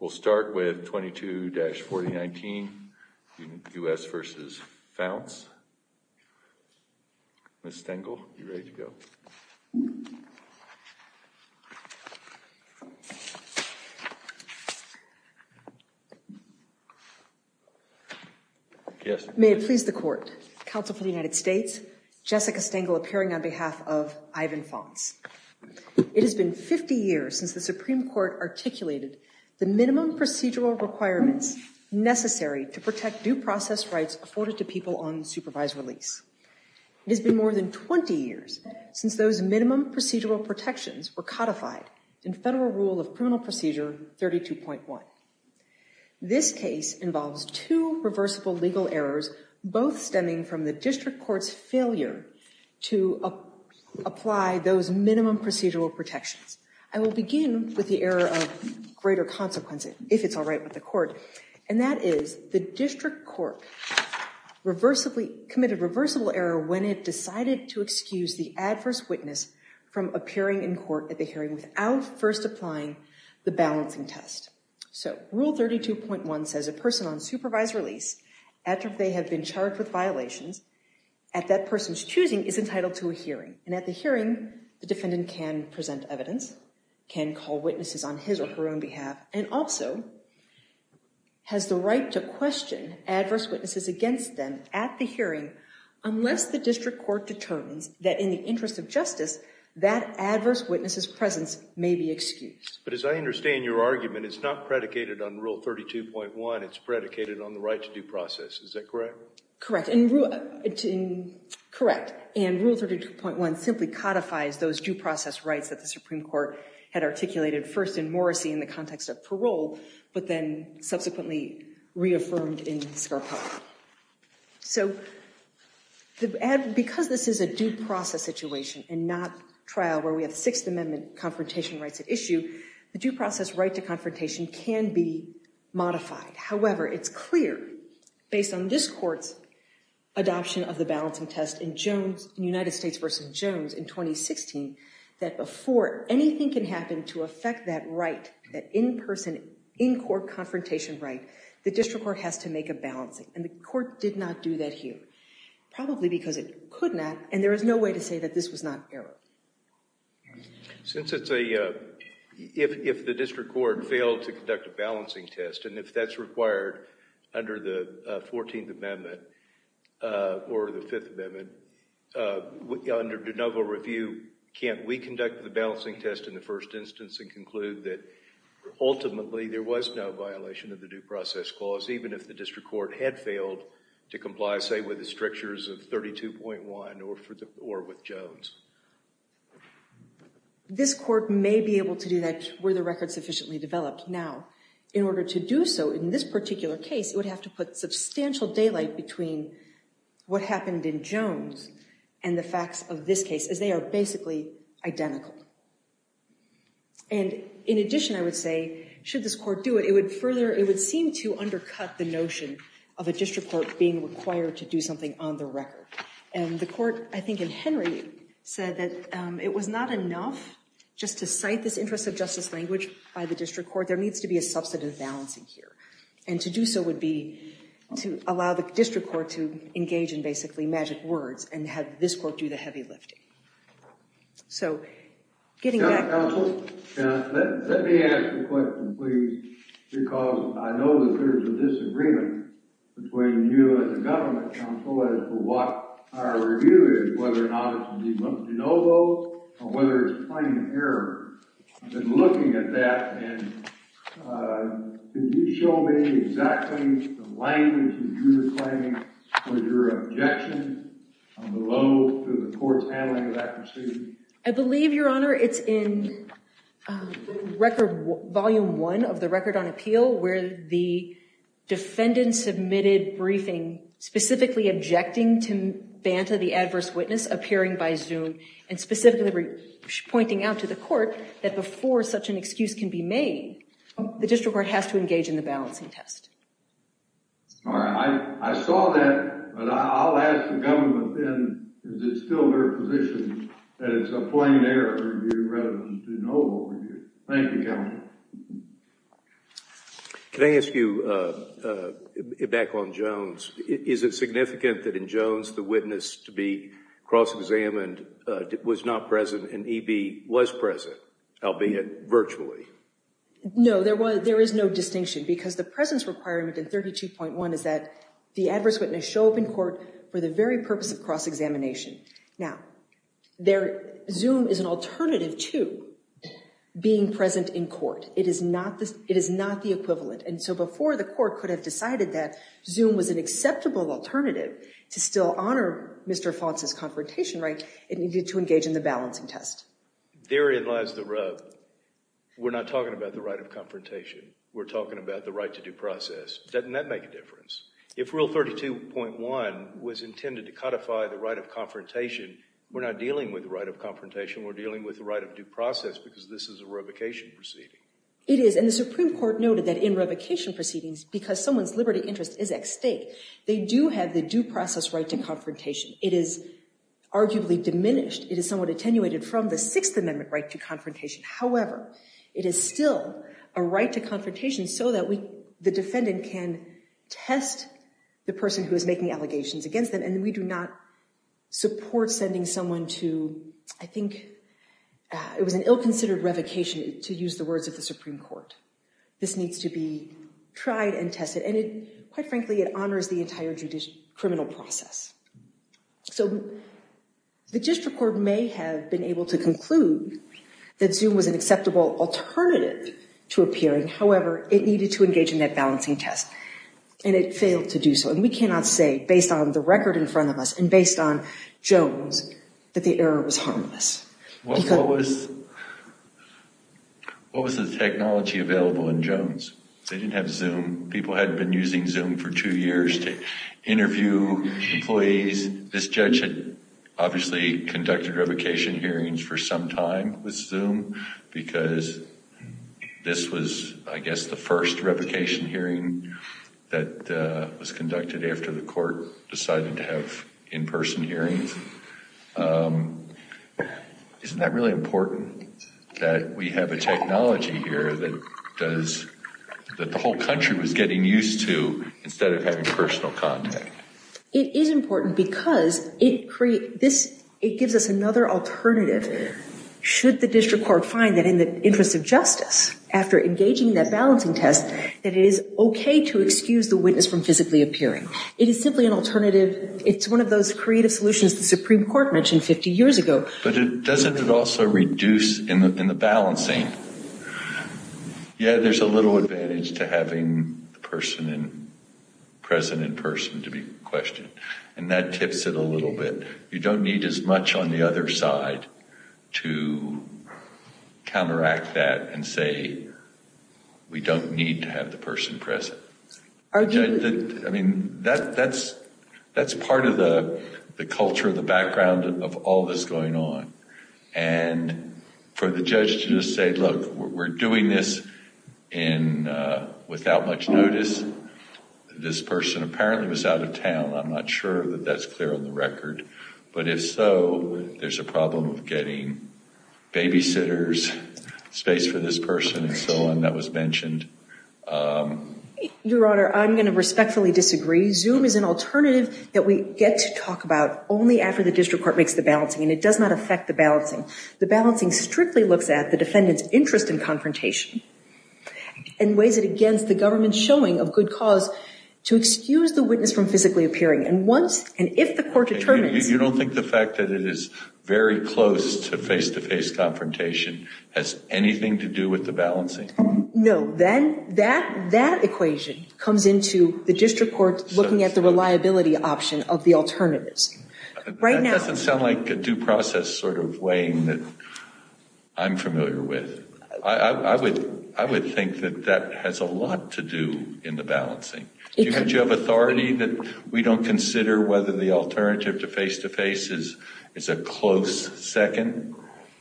We'll start with 22-4019, U.S. v. Faunce. Ms. Stengel, you're ready to go. May it please the Court. Counsel for the United States, Jessica Stengel appearing on behalf of Ivan Faunce. It has been 50 years since the Supreme Court articulated the minimum procedural requirements necessary to protect due process rights afforded to people on supervised release. It has been more than 20 years since those minimum procedural protections were codified in Federal Rule of Criminal Procedure 32.1. This case involves two reversible legal errors, both stemming from the District Court's failure to apply those minimum procedural protections. I will begin with the error of greater consequence, if it's all right with the Court. And that is the District Court committed reversible error when it decided to excuse the adverse witness from appearing in court at the hearing without first applying the balancing test. So Rule 32.1 says a person on supervised release, after they have been charged with violations, at that person's choosing, is entitled to a hearing. And at the hearing, the defendant can present evidence, can call witnesses on his or her own behalf, and also has the right to question adverse witnesses against them at the hearing unless the District Court determines that in the interest of justice, that adverse witness's presence may be excused. But as I understand your argument, it's not predicated on Rule 32.1. It's predicated on the right to due process. Is that correct? Correct. And Rule 32.1 simply codifies those due process rights that the Supreme Court had articulated first in Morrissey in the context of parole, but then subsequently reaffirmed in Scarpa. So because this is a due process situation and not trial where we have Sixth Amendment confrontation rights at issue, the due process right to confrontation can be modified. However, it's clear, based on this court's adoption of the balancing test in United States v. Jones in 2016, that before anything can happen to affect that right, that in-person, in-court confrontation right, the District Court has to make a balancing. And the court did not do that here, probably because it could not, and there is no way to say that this was not errored. Since it's a, if the District Court failed to conduct a balancing test, and if that's required under the Fourteenth Amendment or the Fifth Amendment, under de novo review, can't we conduct the balancing test in the first instance and conclude that ultimately there was no violation of the due process clause, even if the District Court had failed to comply, say, with the strictures of 32.1 or with Jones? This court may be able to do that were the record sufficiently developed. Now, in order to do so in this particular case, it would have to put substantial daylight between what happened in Jones and the facts of this case, as they are basically identical. And in addition, I would say, should this court do it, it would further, it would seem to undercut the notion of a District Court being required to do something on the record. And the court, I think in Henry, said that it was not enough just to cite this interest of justice language by the District Court. There needs to be a substantive balancing here. And to do so would be to allow the District Court to engage in basically magic words and have this court do the heavy lifting. So, getting back. Counsel, let me ask a question, please, because I know that there's a disagreement between you and the government, counsel, as to what our review is, whether or not it's de novo or whether it's plain error. I've been looking at that, and did you show me exactly the language that you were claiming for your objection on the low to the court's handling of that proceeding? I believe, Your Honor, it's in Record Volume 1 of the Record on Appeal, where the defendant submitted briefing specifically objecting to Banta, the adverse witness, appearing by Zoom, and specifically pointing out to the court that before such an excuse can be made, the District Court has to engage in the balancing test. All right. I saw that, but I'll ask the government then, is it still their position that it's a plain error review rather than de novo review? Thank you, Counsel. Can I ask you, back on Jones, is it significant that in Jones the witness to be cross-examined was not present and E.B. was present, albeit virtually? No, there is no distinction, because the presence requirement in 32.1 is that the adverse witness show up in court for the very purpose of cross-examination. Now, Zoom is an alternative to being present in court. It is not the equivalent, and so before the court could have decided that Zoom was an acceptable alternative to still honor Mr. Fonce's confrontation right, it needed to engage in the balancing test. Therein lies the rub. We're not talking about the right of confrontation. We're talking about the right to due process. Doesn't that make a difference? If Rule 32.1 was intended to codify the right of confrontation, we're not dealing with the right of confrontation. We're dealing with the right of due process, because this is a revocation proceeding. It is, and the Supreme Court noted that in revocation proceedings, because someone's liberty interest is at stake, they do have the due process right to confrontation. It is arguably diminished. It is somewhat attenuated from the Sixth Amendment right to confrontation. However, it is still a right to confrontation so that the defendant can test the person who is making allegations against them, and we do not support sending someone to, I think, it was an ill-considered revocation, to use the words of the Supreme Court. This needs to be tried and tested, and it, quite frankly, it honors the entire criminal process. So, the district court may have been able to conclude that Zoom was an acceptable alternative to appearing. However, it needed to engage in that balancing test, and it failed to do so, and we cannot say, based on the record in front of us and based on Jones, that the error was harmless. What was the technology available in Jones? They didn't have Zoom. People had been using Zoom for two years to interview employees. This judge had obviously conducted revocation hearings for some time with Zoom, because this was, I guess, the first revocation hearing that was conducted after the court decided to have in-person hearings. Isn't that really important that we have a technology here that does, that the whole country was getting used to instead of having personal contact? It is important because it creates, it gives us another alternative should the district court find that in the interest of justice, after engaging in that balancing test, that it is okay to excuse the witness from physically appearing. It is simply an alternative. It's one of those creative solutions the Supreme Court mentioned 50 years ago. But doesn't it also reduce, in the balancing, yeah, there's a little advantage to having the person in, present in person to be questioned, and that tips it a little bit. You don't need as much on the other side to counteract that and say, we don't need to have the person present. I mean, that's part of the culture, the background of all this going on. And for the judge to just say, look, we're doing this without much notice. This person apparently was out of town. I'm not sure that that's clear on the record. But if so, there's a problem of getting babysitters, space for this person, and so on, that was mentioned. Your Honor, I'm going to respectfully disagree. Zoom is an alternative that we get to talk about only after the district court makes the balancing, and it does not affect the balancing. The balancing strictly looks at the defendant's interest in confrontation and weighs it against the government's showing of good cause to excuse the witness from physically appearing. You don't think the fact that it is very close to face-to-face confrontation has anything to do with the balancing? No. That equation comes into the district court looking at the reliability option of the alternatives. That doesn't sound like a due process sort of weighing that I'm familiar with. I would think that that has a lot to do in the balancing. Don't you have authority that we don't consider whether the alternative to face-to-face is a close second,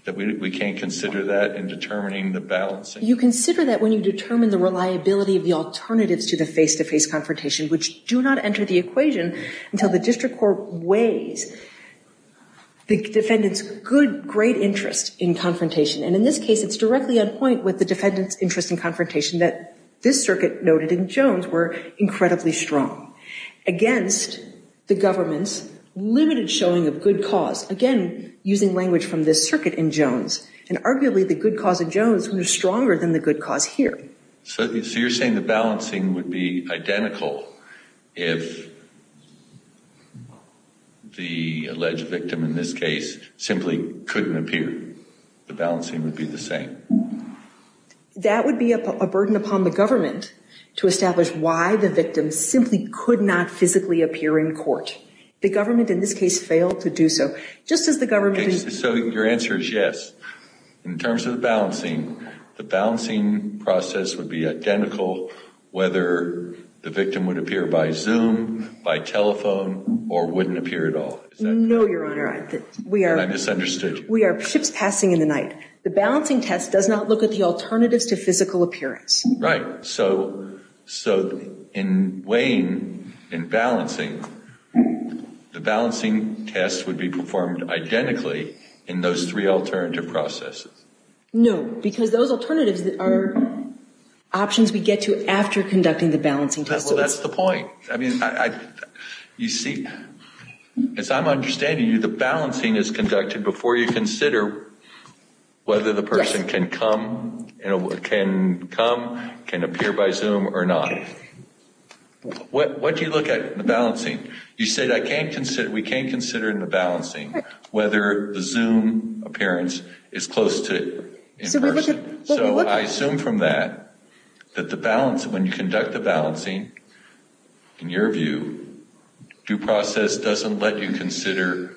that we can't consider that in determining the balancing? You consider that when you determine the reliability of the alternatives to the face-to-face confrontation, which do not enter the equation until the district court weighs the defendant's good, great interest in confrontation. And in this case, it's directly on point with the defendant's interest in confrontation that this circuit noted in Jones were incredibly strong against the government's limited showing of good cause. Again, using language from this circuit in Jones. And arguably, the good cause in Jones was stronger than the good cause here. So you're saying the balancing would be identical if the alleged victim in this case simply couldn't appear. The balancing would be the same. That would be a burden upon the government to establish why the victim simply could not physically appear in court. The government in this case failed to do so. So your answer is yes. In terms of the balancing, the balancing process would be identical whether the victim would appear by Zoom, by telephone, or wouldn't appear at all. No, Your Honor. And I misunderstood. We are ships passing in the night. The balancing test does not look at the alternatives to physical appearance. Right. So in weighing and balancing, the balancing test would be performed identically in those three alternative processes. No, because those alternatives are options we get to after conducting the balancing test. Well, that's the point. You see, as I'm understanding you, the balancing is conducted before you consider whether the person can come, can appear by Zoom or not. What do you look at in the balancing? You said we can't consider in the balancing whether the Zoom appearance is close to in person. So I assume from that that when you conduct the balancing, in your view, due process doesn't let you consider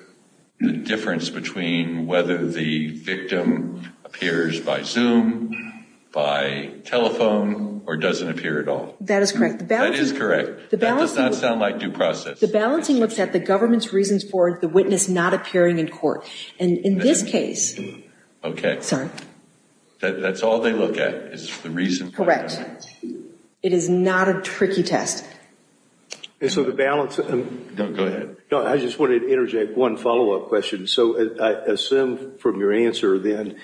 the difference between whether the victim appears by Zoom, by telephone, or doesn't appear at all. That is correct. That is correct. That does not sound like due process. The balancing looks at the government's reasons for the witness not appearing in court. In this case. Okay. Sorry. That's all they look at is the reasons. Correct. It is not a tricky test. So the balance. No, go ahead. I just wanted to interject one follow-up question. So I assume from your answer then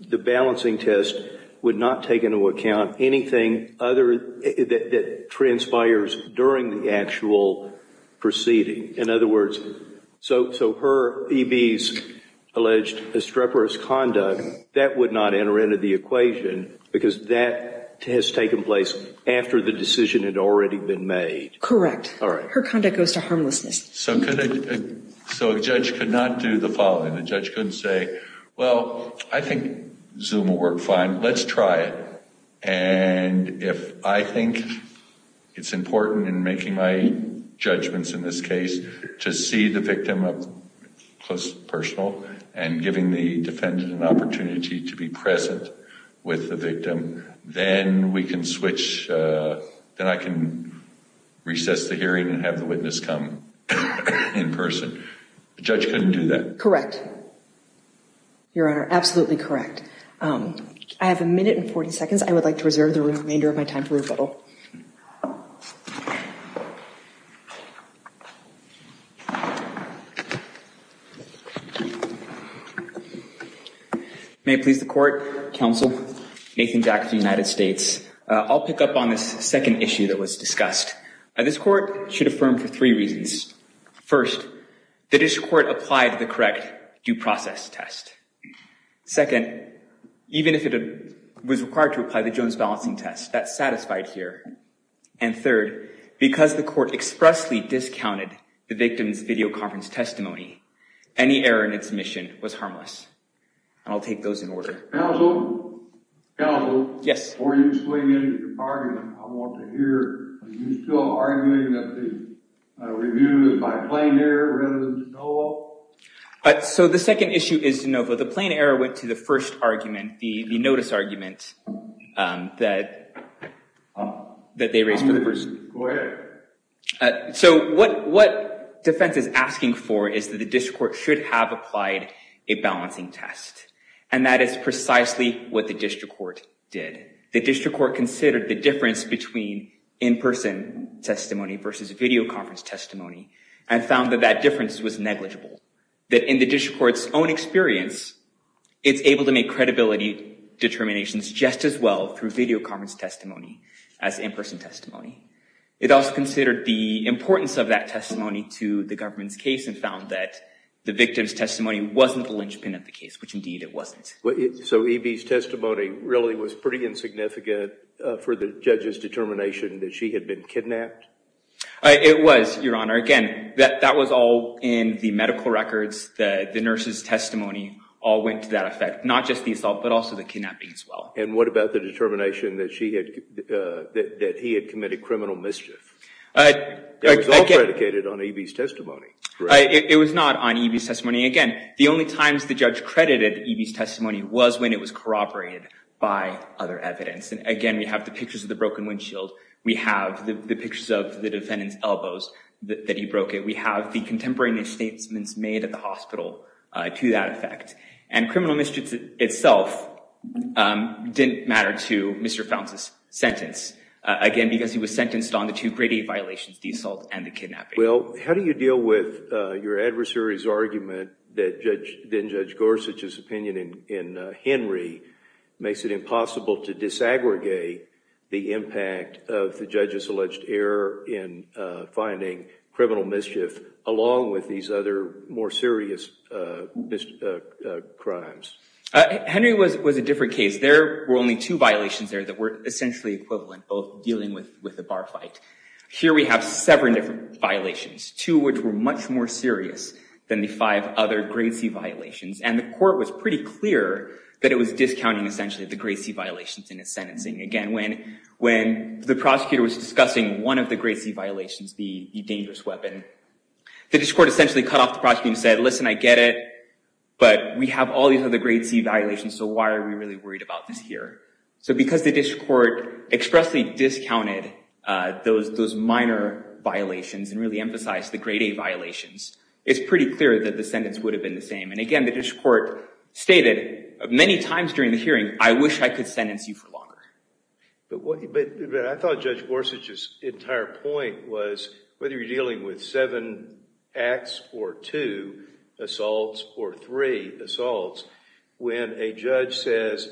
the balancing test would not take into account anything that transpires during the actual proceeding. In other words, so her EB's alleged estreporous conduct, that would not enter into the equation because that has taken place after the decision had already been made. Correct. All right. Her conduct goes to harmlessness. So a judge could not do the following. The judge couldn't say, well, I think Zoom will work fine. Let's try it. And if I think it's important in making my judgments in this case to see the victim up close and personal and giving the defendant an opportunity to be present with the victim, then we can switch. Then I can recess the hearing and have the witness come in person. The judge couldn't do that. Correct. Your Honor, absolutely correct. I have a minute and 40 seconds. I would like to reserve the remainder of my time for rebuttal. May it please the court, counsel, Nathan Jack of the United States. I'll pick up on this second issue that was discussed. This court should affirm for three reasons. First, the district court applied the correct due process test. Second, even if it was required to apply the Jones balancing test, that's satisfied here. And third, because the court expressly discounted the victim's videoconference testimony, any error in its mission was harmless. And I'll take those in order. Counsel? Counsel? Yes. Before you swing into your argument, I want to hear, are you still arguing that the review is by plain error rather than de novo? So the second issue is de novo. The plain error went to the first argument, the notice argument that they raised for the person. Go ahead. So what defense is asking for is that the district court should have applied a balancing test. And that is precisely what the district court did. The district court considered the difference between in-person testimony versus videoconference testimony and found that that difference was negligible. That in the district court's own experience, it's able to make credibility determinations just as well through videoconference testimony as in-person testimony. It also considered the importance of that testimony to the government's case and found that the victim's testimony wasn't the linchpin of the case, which indeed it wasn't. So E.B.'s testimony really was pretty insignificant for the judge's determination that she had been kidnapped? It was, Your Honor. Again, that was all in the medical records. The nurse's testimony all went to that effect, not just the assault but also the kidnapping as well. And what about the determination that he had committed criminal mischief? That was all predicated on E.B.'s testimony. It was not on E.B.'s testimony. Again, the only times the judge credited E.B.'s testimony was when it was corroborated by other evidence. And, again, we have the pictures of the broken windshield. We have the pictures of the defendant's elbows that he broke. We have the contemporary misstatements made at the hospital to that effect. And criminal mischief itself didn't matter to Mr. Founce's sentence, again, because he was sentenced on the two grade-A violations, the assault and the kidnapping. Well, how do you deal with your adversary's argument that Judge Gorsuch's opinion in Henry makes it impossible to disaggregate the impact of the judge's alleged error in finding criminal mischief along with these other more serious crimes? Henry was a different case. There were only two violations there that were essentially equivalent, both dealing with the bar fight. Here we have seven different violations, two which were much more serious than the five other grade-C violations. And the court was pretty clear that it was discounting, essentially, the grade-C violations in its sentencing. Again, when the prosecutor was discussing one of the grade-C violations, the dangerous weapon, the district court essentially cut off the prosecutor and said, listen, I get it, but we have all these other grade-C violations, so why are we really worried about this here? So because the district court expressly discounted those minor violations and really emphasized the grade-A violations, it's pretty clear that the sentence would have been the same. And again, the district court stated many times during the hearing, I wish I could sentence you for longer. But I thought Judge Gorsuch's entire point was, whether you're dealing with seven acts or two assaults or three assaults, when a judge says,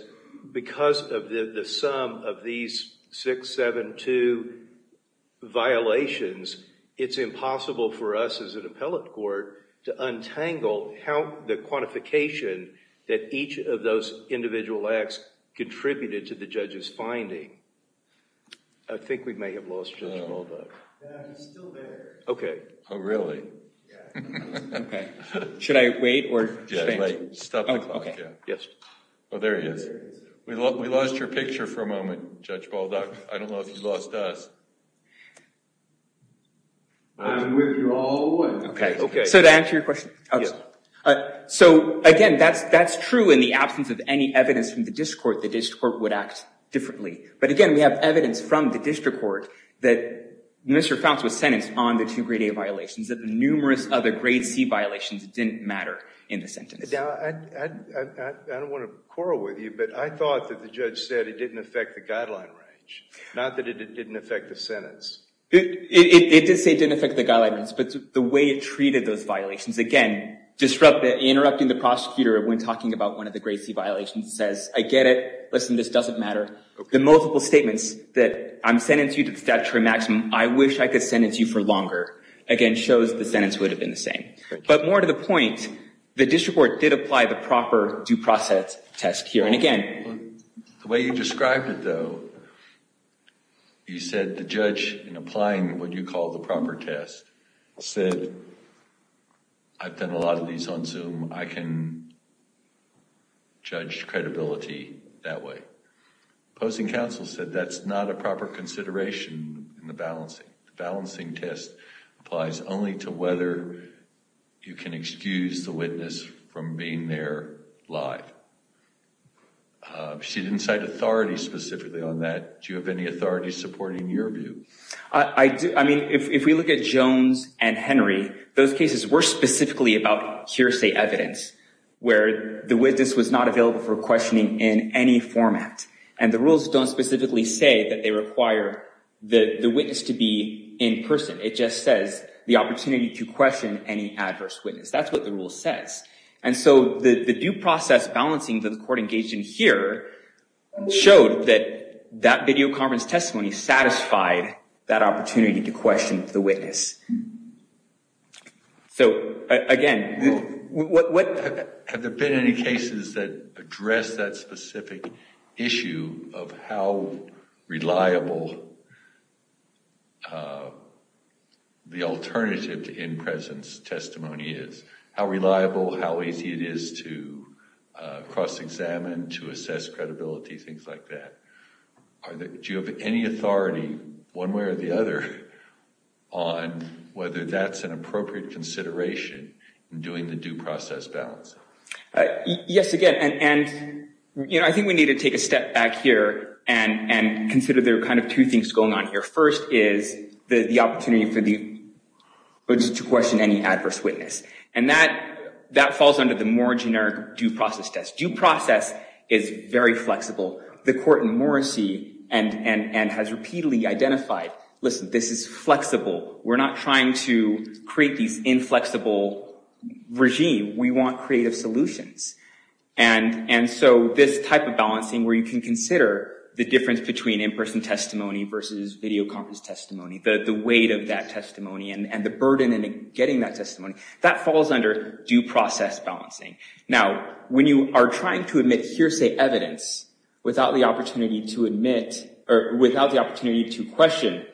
because of the sum of these six, seven, two violations, it's impossible for us as an appellate court to untangle the quantification that each of those individual acts contributed to the judge's finding. I think we may have lost Judge Balduck. He's still there. OK. Oh, really? Yeah. OK. Should I wait? Yeah, wait. Stop the clock. Yes. Oh, there he is. We lost your picture for a moment, Judge Balduck. I don't know if you lost us. I'm with you all the way. OK. So to answer your question, so again, that's true in the absence of any evidence from the district court. The district court would act differently. But again, we have evidence from the district court that Mr. Founts was sentenced on the two grade-A violations, that the numerous other grade-C violations didn't matter in the sentence. Now, I don't want to quarrel with you, but I thought that the judge said it didn't affect the guideline range, not that it didn't affect the sentence. It did say it didn't affect the guideline range. But the way it treated those violations, again, interrupting the prosecutor when talking about one of the grade-C violations says, I get it. Listen, this doesn't matter. The multiple statements that I sentence you to the statutory maximum, I wish I could sentence you for longer, again, shows the sentence would have been the same. But more to the point, the district court did apply the proper due process test here and again. The way you described it, though, you said the judge, in applying what you call the proper test, said, I've done a lot of these on Zoom. I can judge credibility that way. Opposing counsel said that's not a proper consideration in the balancing. The balancing test applies only to whether you can excuse the witness from being there live. She didn't cite authority specifically on that. Do you have any authority supporting your view? I do. I mean, if we look at Jones and Henry, those cases were specifically about hearsay evidence, where the witness was not available for questioning in any format. And the rules don't specifically say that they require the witness to be in person. It just says the opportunity to question any adverse witness. That's what the rule says. And so the due process balancing that the court engaged in here showed that that video conference testimony satisfied that opportunity to question the witness. So, again, what... Have there been any cases that address that specific issue of how reliable the alternative to in-presence testimony is? How reliable, how easy it is to cross-examine, to assess credibility, things like that? Do you have any authority, one way or the other, on whether that's an appropriate consideration in doing the due process balance? Yes, again. And, you know, I think we need to take a step back here and consider there are kind of two things going on here. First is the opportunity to question any adverse witness. And that falls under the more generic due process test. Due process is very flexible. The court in Morrissey has repeatedly identified, listen, this is flexible. We're not trying to create these inflexible regimes. We want creative solutions. And so this type of balancing where you can consider the difference between in-person testimony versus video conference testimony, the weight of that testimony and the burden in getting that testimony, that falls under due process balancing. Now, when you are trying to admit hearsay evidence without the opportunity to admit or without the opportunity to question,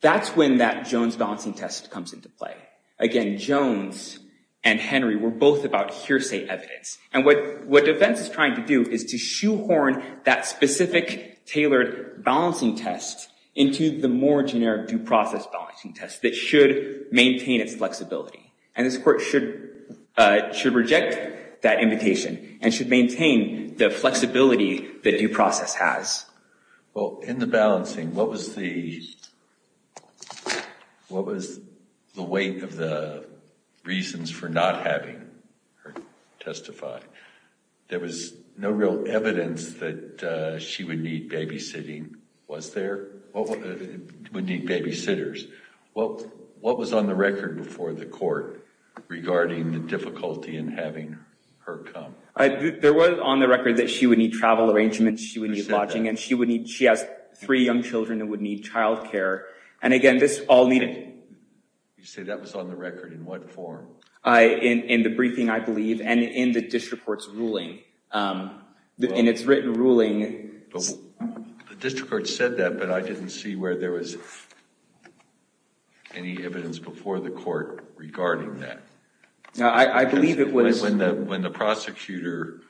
that's when that Jones balancing test comes into play. Again, Jones and Henry were both about hearsay evidence. And what defense is trying to do is to shoehorn that specific tailored balancing test into the more generic due process balancing test that should maintain its flexibility. And this court should reject that invitation and should maintain the flexibility that due process has. Well, in the balancing, what was the weight of the reasons for not having her testify? There was no real evidence that she would need babysitting. Was there? Would need babysitters. What was on the record before the court regarding the difficulty in having her come? There was on the record that she would need travel arrangements. She would need lodging. And she has three young children and would need child care. And again, this all needed. You say that was on the record in what form? In the briefing, I believe, and in the district court's ruling. In its written ruling. The district court said that, but I didn't see where there was any evidence before the court regarding that. Now, I believe it was. When the prosecutor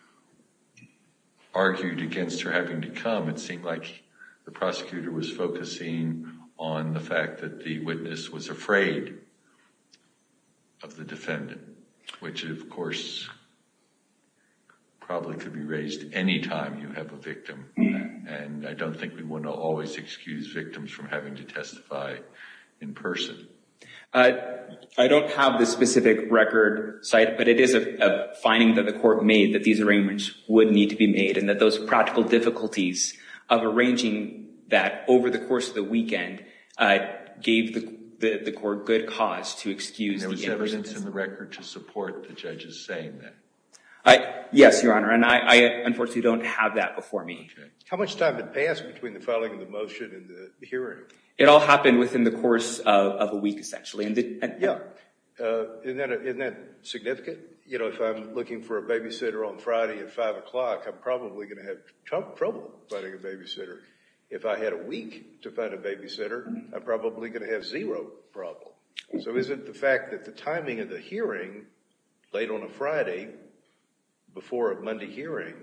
argued against her having to come, it seemed like the prosecutor was focusing on the fact that the witness was afraid of the defendant. Which, of course, probably could be raised any time you have a victim. And I don't think we want to always excuse victims from having to testify in person. I don't have the specific record, but it is a finding that the court made that these arrangements would need to be made. And that those practical difficulties of arranging that over the course of the weekend gave the court good cause to excuse the evidence. And there was evidence in the record to support the judge's saying that? Yes, Your Honor. And I, unfortunately, don't have that before me. How much time had passed between the filing of the motion and the hearing? It all happened within the course of a week, essentially. Yeah. Isn't that significant? You know, if I'm looking for a babysitter on Friday at 5 o'clock, I'm probably going to have trouble finding a babysitter. If I had a week to find a babysitter, I'm probably going to have zero trouble. So isn't the fact that the timing of the hearing late on a Friday before a Monday hearing,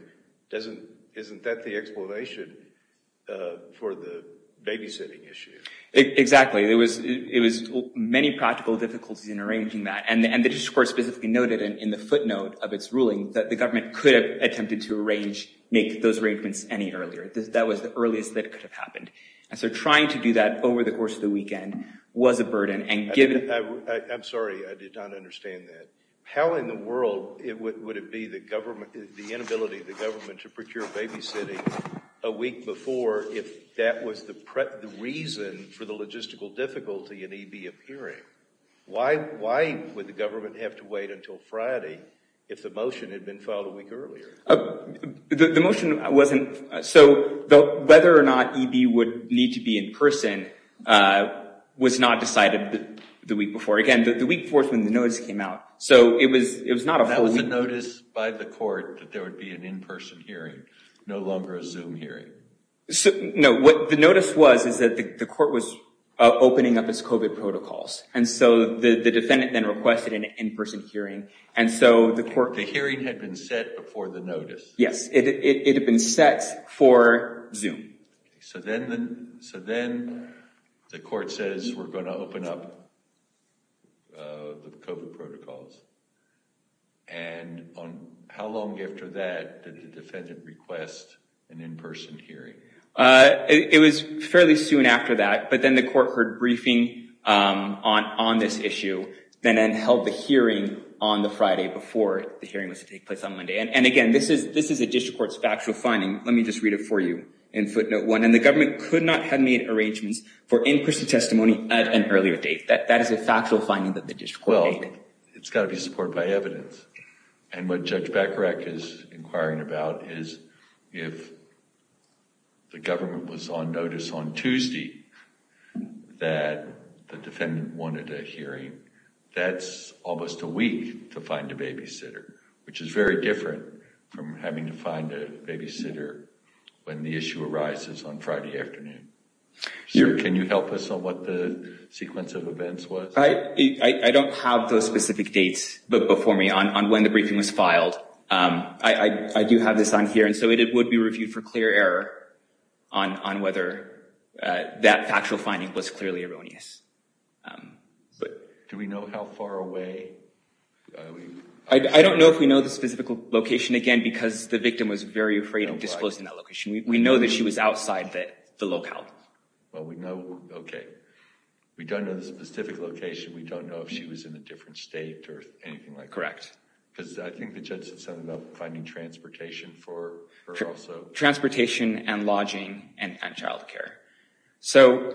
isn't that the explanation for the babysitting issue? Exactly. It was many practical difficulties in arranging that. And the district court specifically noted in the footnote of its ruling that the government could have attempted to make those arrangements any earlier. That was the earliest that could have happened. And so trying to do that over the course of the weekend was a burden. I'm sorry, I did not understand that. How in the world would it be the inability of the government to procure babysitting a week before if that was the reason for the logistical difficulty in EB appearing? Why would the government have to wait until Friday if the motion had been filed a week earlier? The motion wasn't – so whether or not EB would need to be in person was not decided the week before. Again, the week before is when the notice came out. So it was not a full – That was a notice by the court that there would be an in-person hearing, no longer a Zoom hearing. No, what the notice was is that the court was opening up its COVID protocols. And so the defendant then requested an in-person hearing. The hearing had been set before the notice? Yes, it had been set for Zoom. So then the court says we're going to open up the COVID protocols. And how long after that did the defendant request an in-person hearing? It was fairly soon after that. But then the court heard briefing on this issue and then held the hearing on the Friday before the hearing was to take place on Monday. And again, this is a district court's factual finding. Let me just read it for you in footnote one. And the government could not have made arrangements for in-person testimony at an earlier date. That is a factual finding that the district court made. Well, it's got to be supported by evidence. And what Judge Bacharach is inquiring about is if the government was on notice on Tuesday that the defendant wanted a hearing, that's almost a week to find a babysitter, which is very different from having to find a babysitter when the issue arises on Friday afternoon. Sir, can you help us on what the sequence of events was? I don't have those specific dates before me on when the briefing was filed. I do have this on here. And so it would be reviewed for clear error on whether that factual finding was clearly erroneous. But do we know how far away? I don't know if we know the specific location, again, because the victim was very afraid of disclosing that location. We know that she was outside the locale. Well, we know. OK. We don't know the specific location. We don't know if she was in a different state or anything like that. Correct. Because I think the judge said something about finding transportation for her also. Transportation and lodging and child care. So,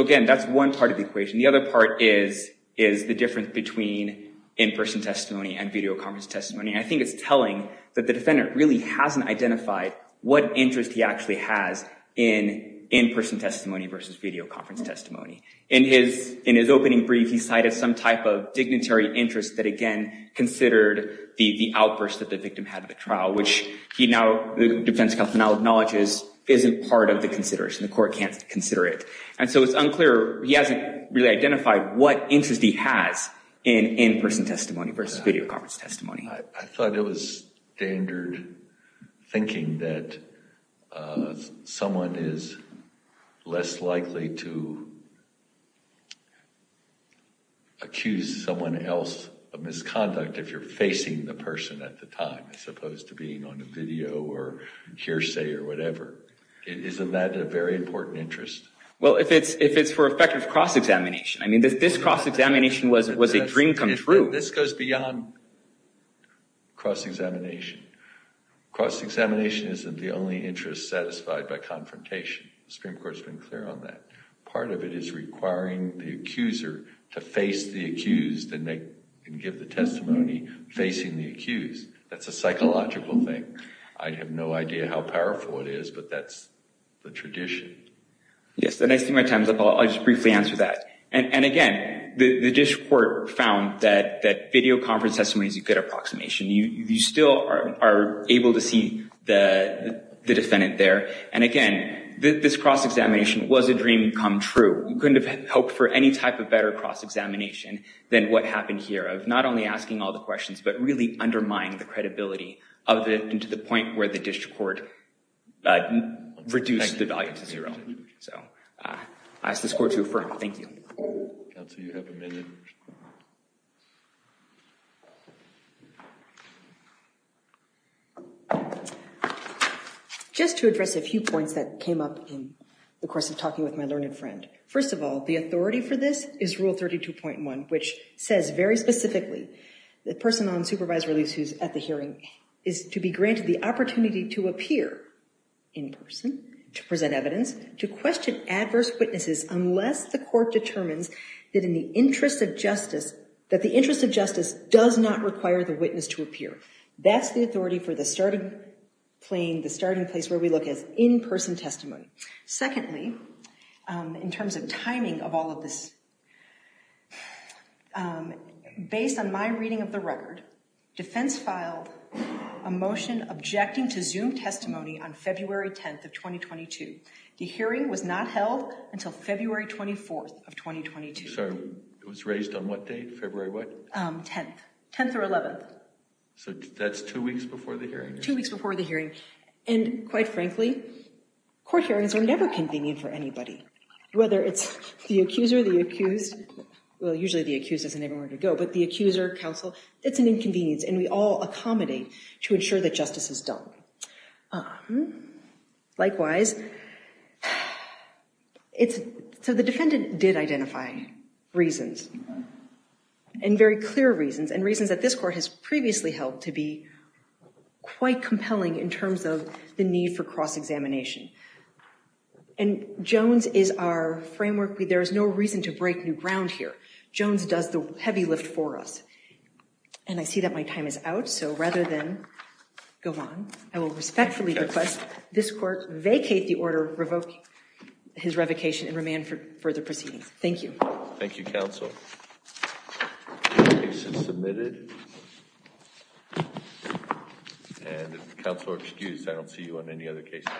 again, that's one part of the equation. The other part is the difference between in-person testimony and videoconference testimony. And I think it's telling that the defendant really hasn't identified what interest he actually has in in-person testimony versus videoconference testimony. In his opening brief, he cited some type of dignitary interest that, again, considered the outburst that the victim had at the trial, which he now, the defense counsel now acknowledges, isn't part of the consideration. The court can't consider it. And so it's unclear. He hasn't really identified what interest he has in in-person testimony versus videoconference testimony. I thought it was standard thinking that someone is less likely to accuse someone else of misconduct if you're facing the person at the time, as opposed to being on a video or hearsay or whatever. Isn't that a very important interest? Well, if it's for effective cross-examination. I mean, this cross-examination was a dream come true. This goes beyond cross-examination. Cross-examination isn't the only interest satisfied by confrontation. The Supreme Court has been clear on that. Part of it is requiring the accuser to face the accused and give the testimony facing the accused. That's a psychological thing. I have no idea how powerful it is, but that's the tradition. Yes, and I see my time's up. I'll just briefly answer that. And again, the district court found that videoconference testimony is a good approximation. You still are able to see the defendant there. And again, this cross-examination was a dream come true. You couldn't have hoped for any type of better cross-examination than what happened here, of not only asking all the questions, but really undermining the credibility of it and to the point where the district court reduced the value to zero. So I ask this court to affirm. Thank you. Counsel, you have a minute. Just to address a few points that came up in the course of talking with my learned friend. First of all, the authority for this is Rule 32.1, which says very specifically the person on supervised release who's at the hearing is to be granted the opportunity to appear in person, to present evidence, to question adverse witnesses unless the court determines that in the interest of justice, that the interest of justice does not require the witness to appear. That's the authority for the starting place where we look at in-person testimony. Secondly, in terms of timing of all of this, based on my reading of the record, defense filed a motion objecting to Zoom testimony on February 10th of 2022. The hearing was not held until February 24th of 2022. Sorry, it was raised on what date? February what? 10th. 10th or 11th. So that's two weeks before the hearing? Two weeks before the hearing. And quite frankly, court hearings are never convenient for anybody, whether it's the accuser, the accused. Well, usually the accused doesn't have anywhere to go, but the accuser, counsel, it's an inconvenience, and we all accommodate to ensure that justice is done. Likewise, so the defendant did identify reasons, and very clear reasons, and reasons that this court has previously held to be quite compelling in terms of the need for cross-examination. And Jones is our framework. There is no reason to break new ground here. Jones does the heavy lift for us. And I see that my time is out, so rather than go on, I will respectfully request this court vacate the order revoking his revocation and remand for further proceedings. Thank you. Thank you, counsel. The case is submitted. And counsel are excused. I don't see you on any other cases.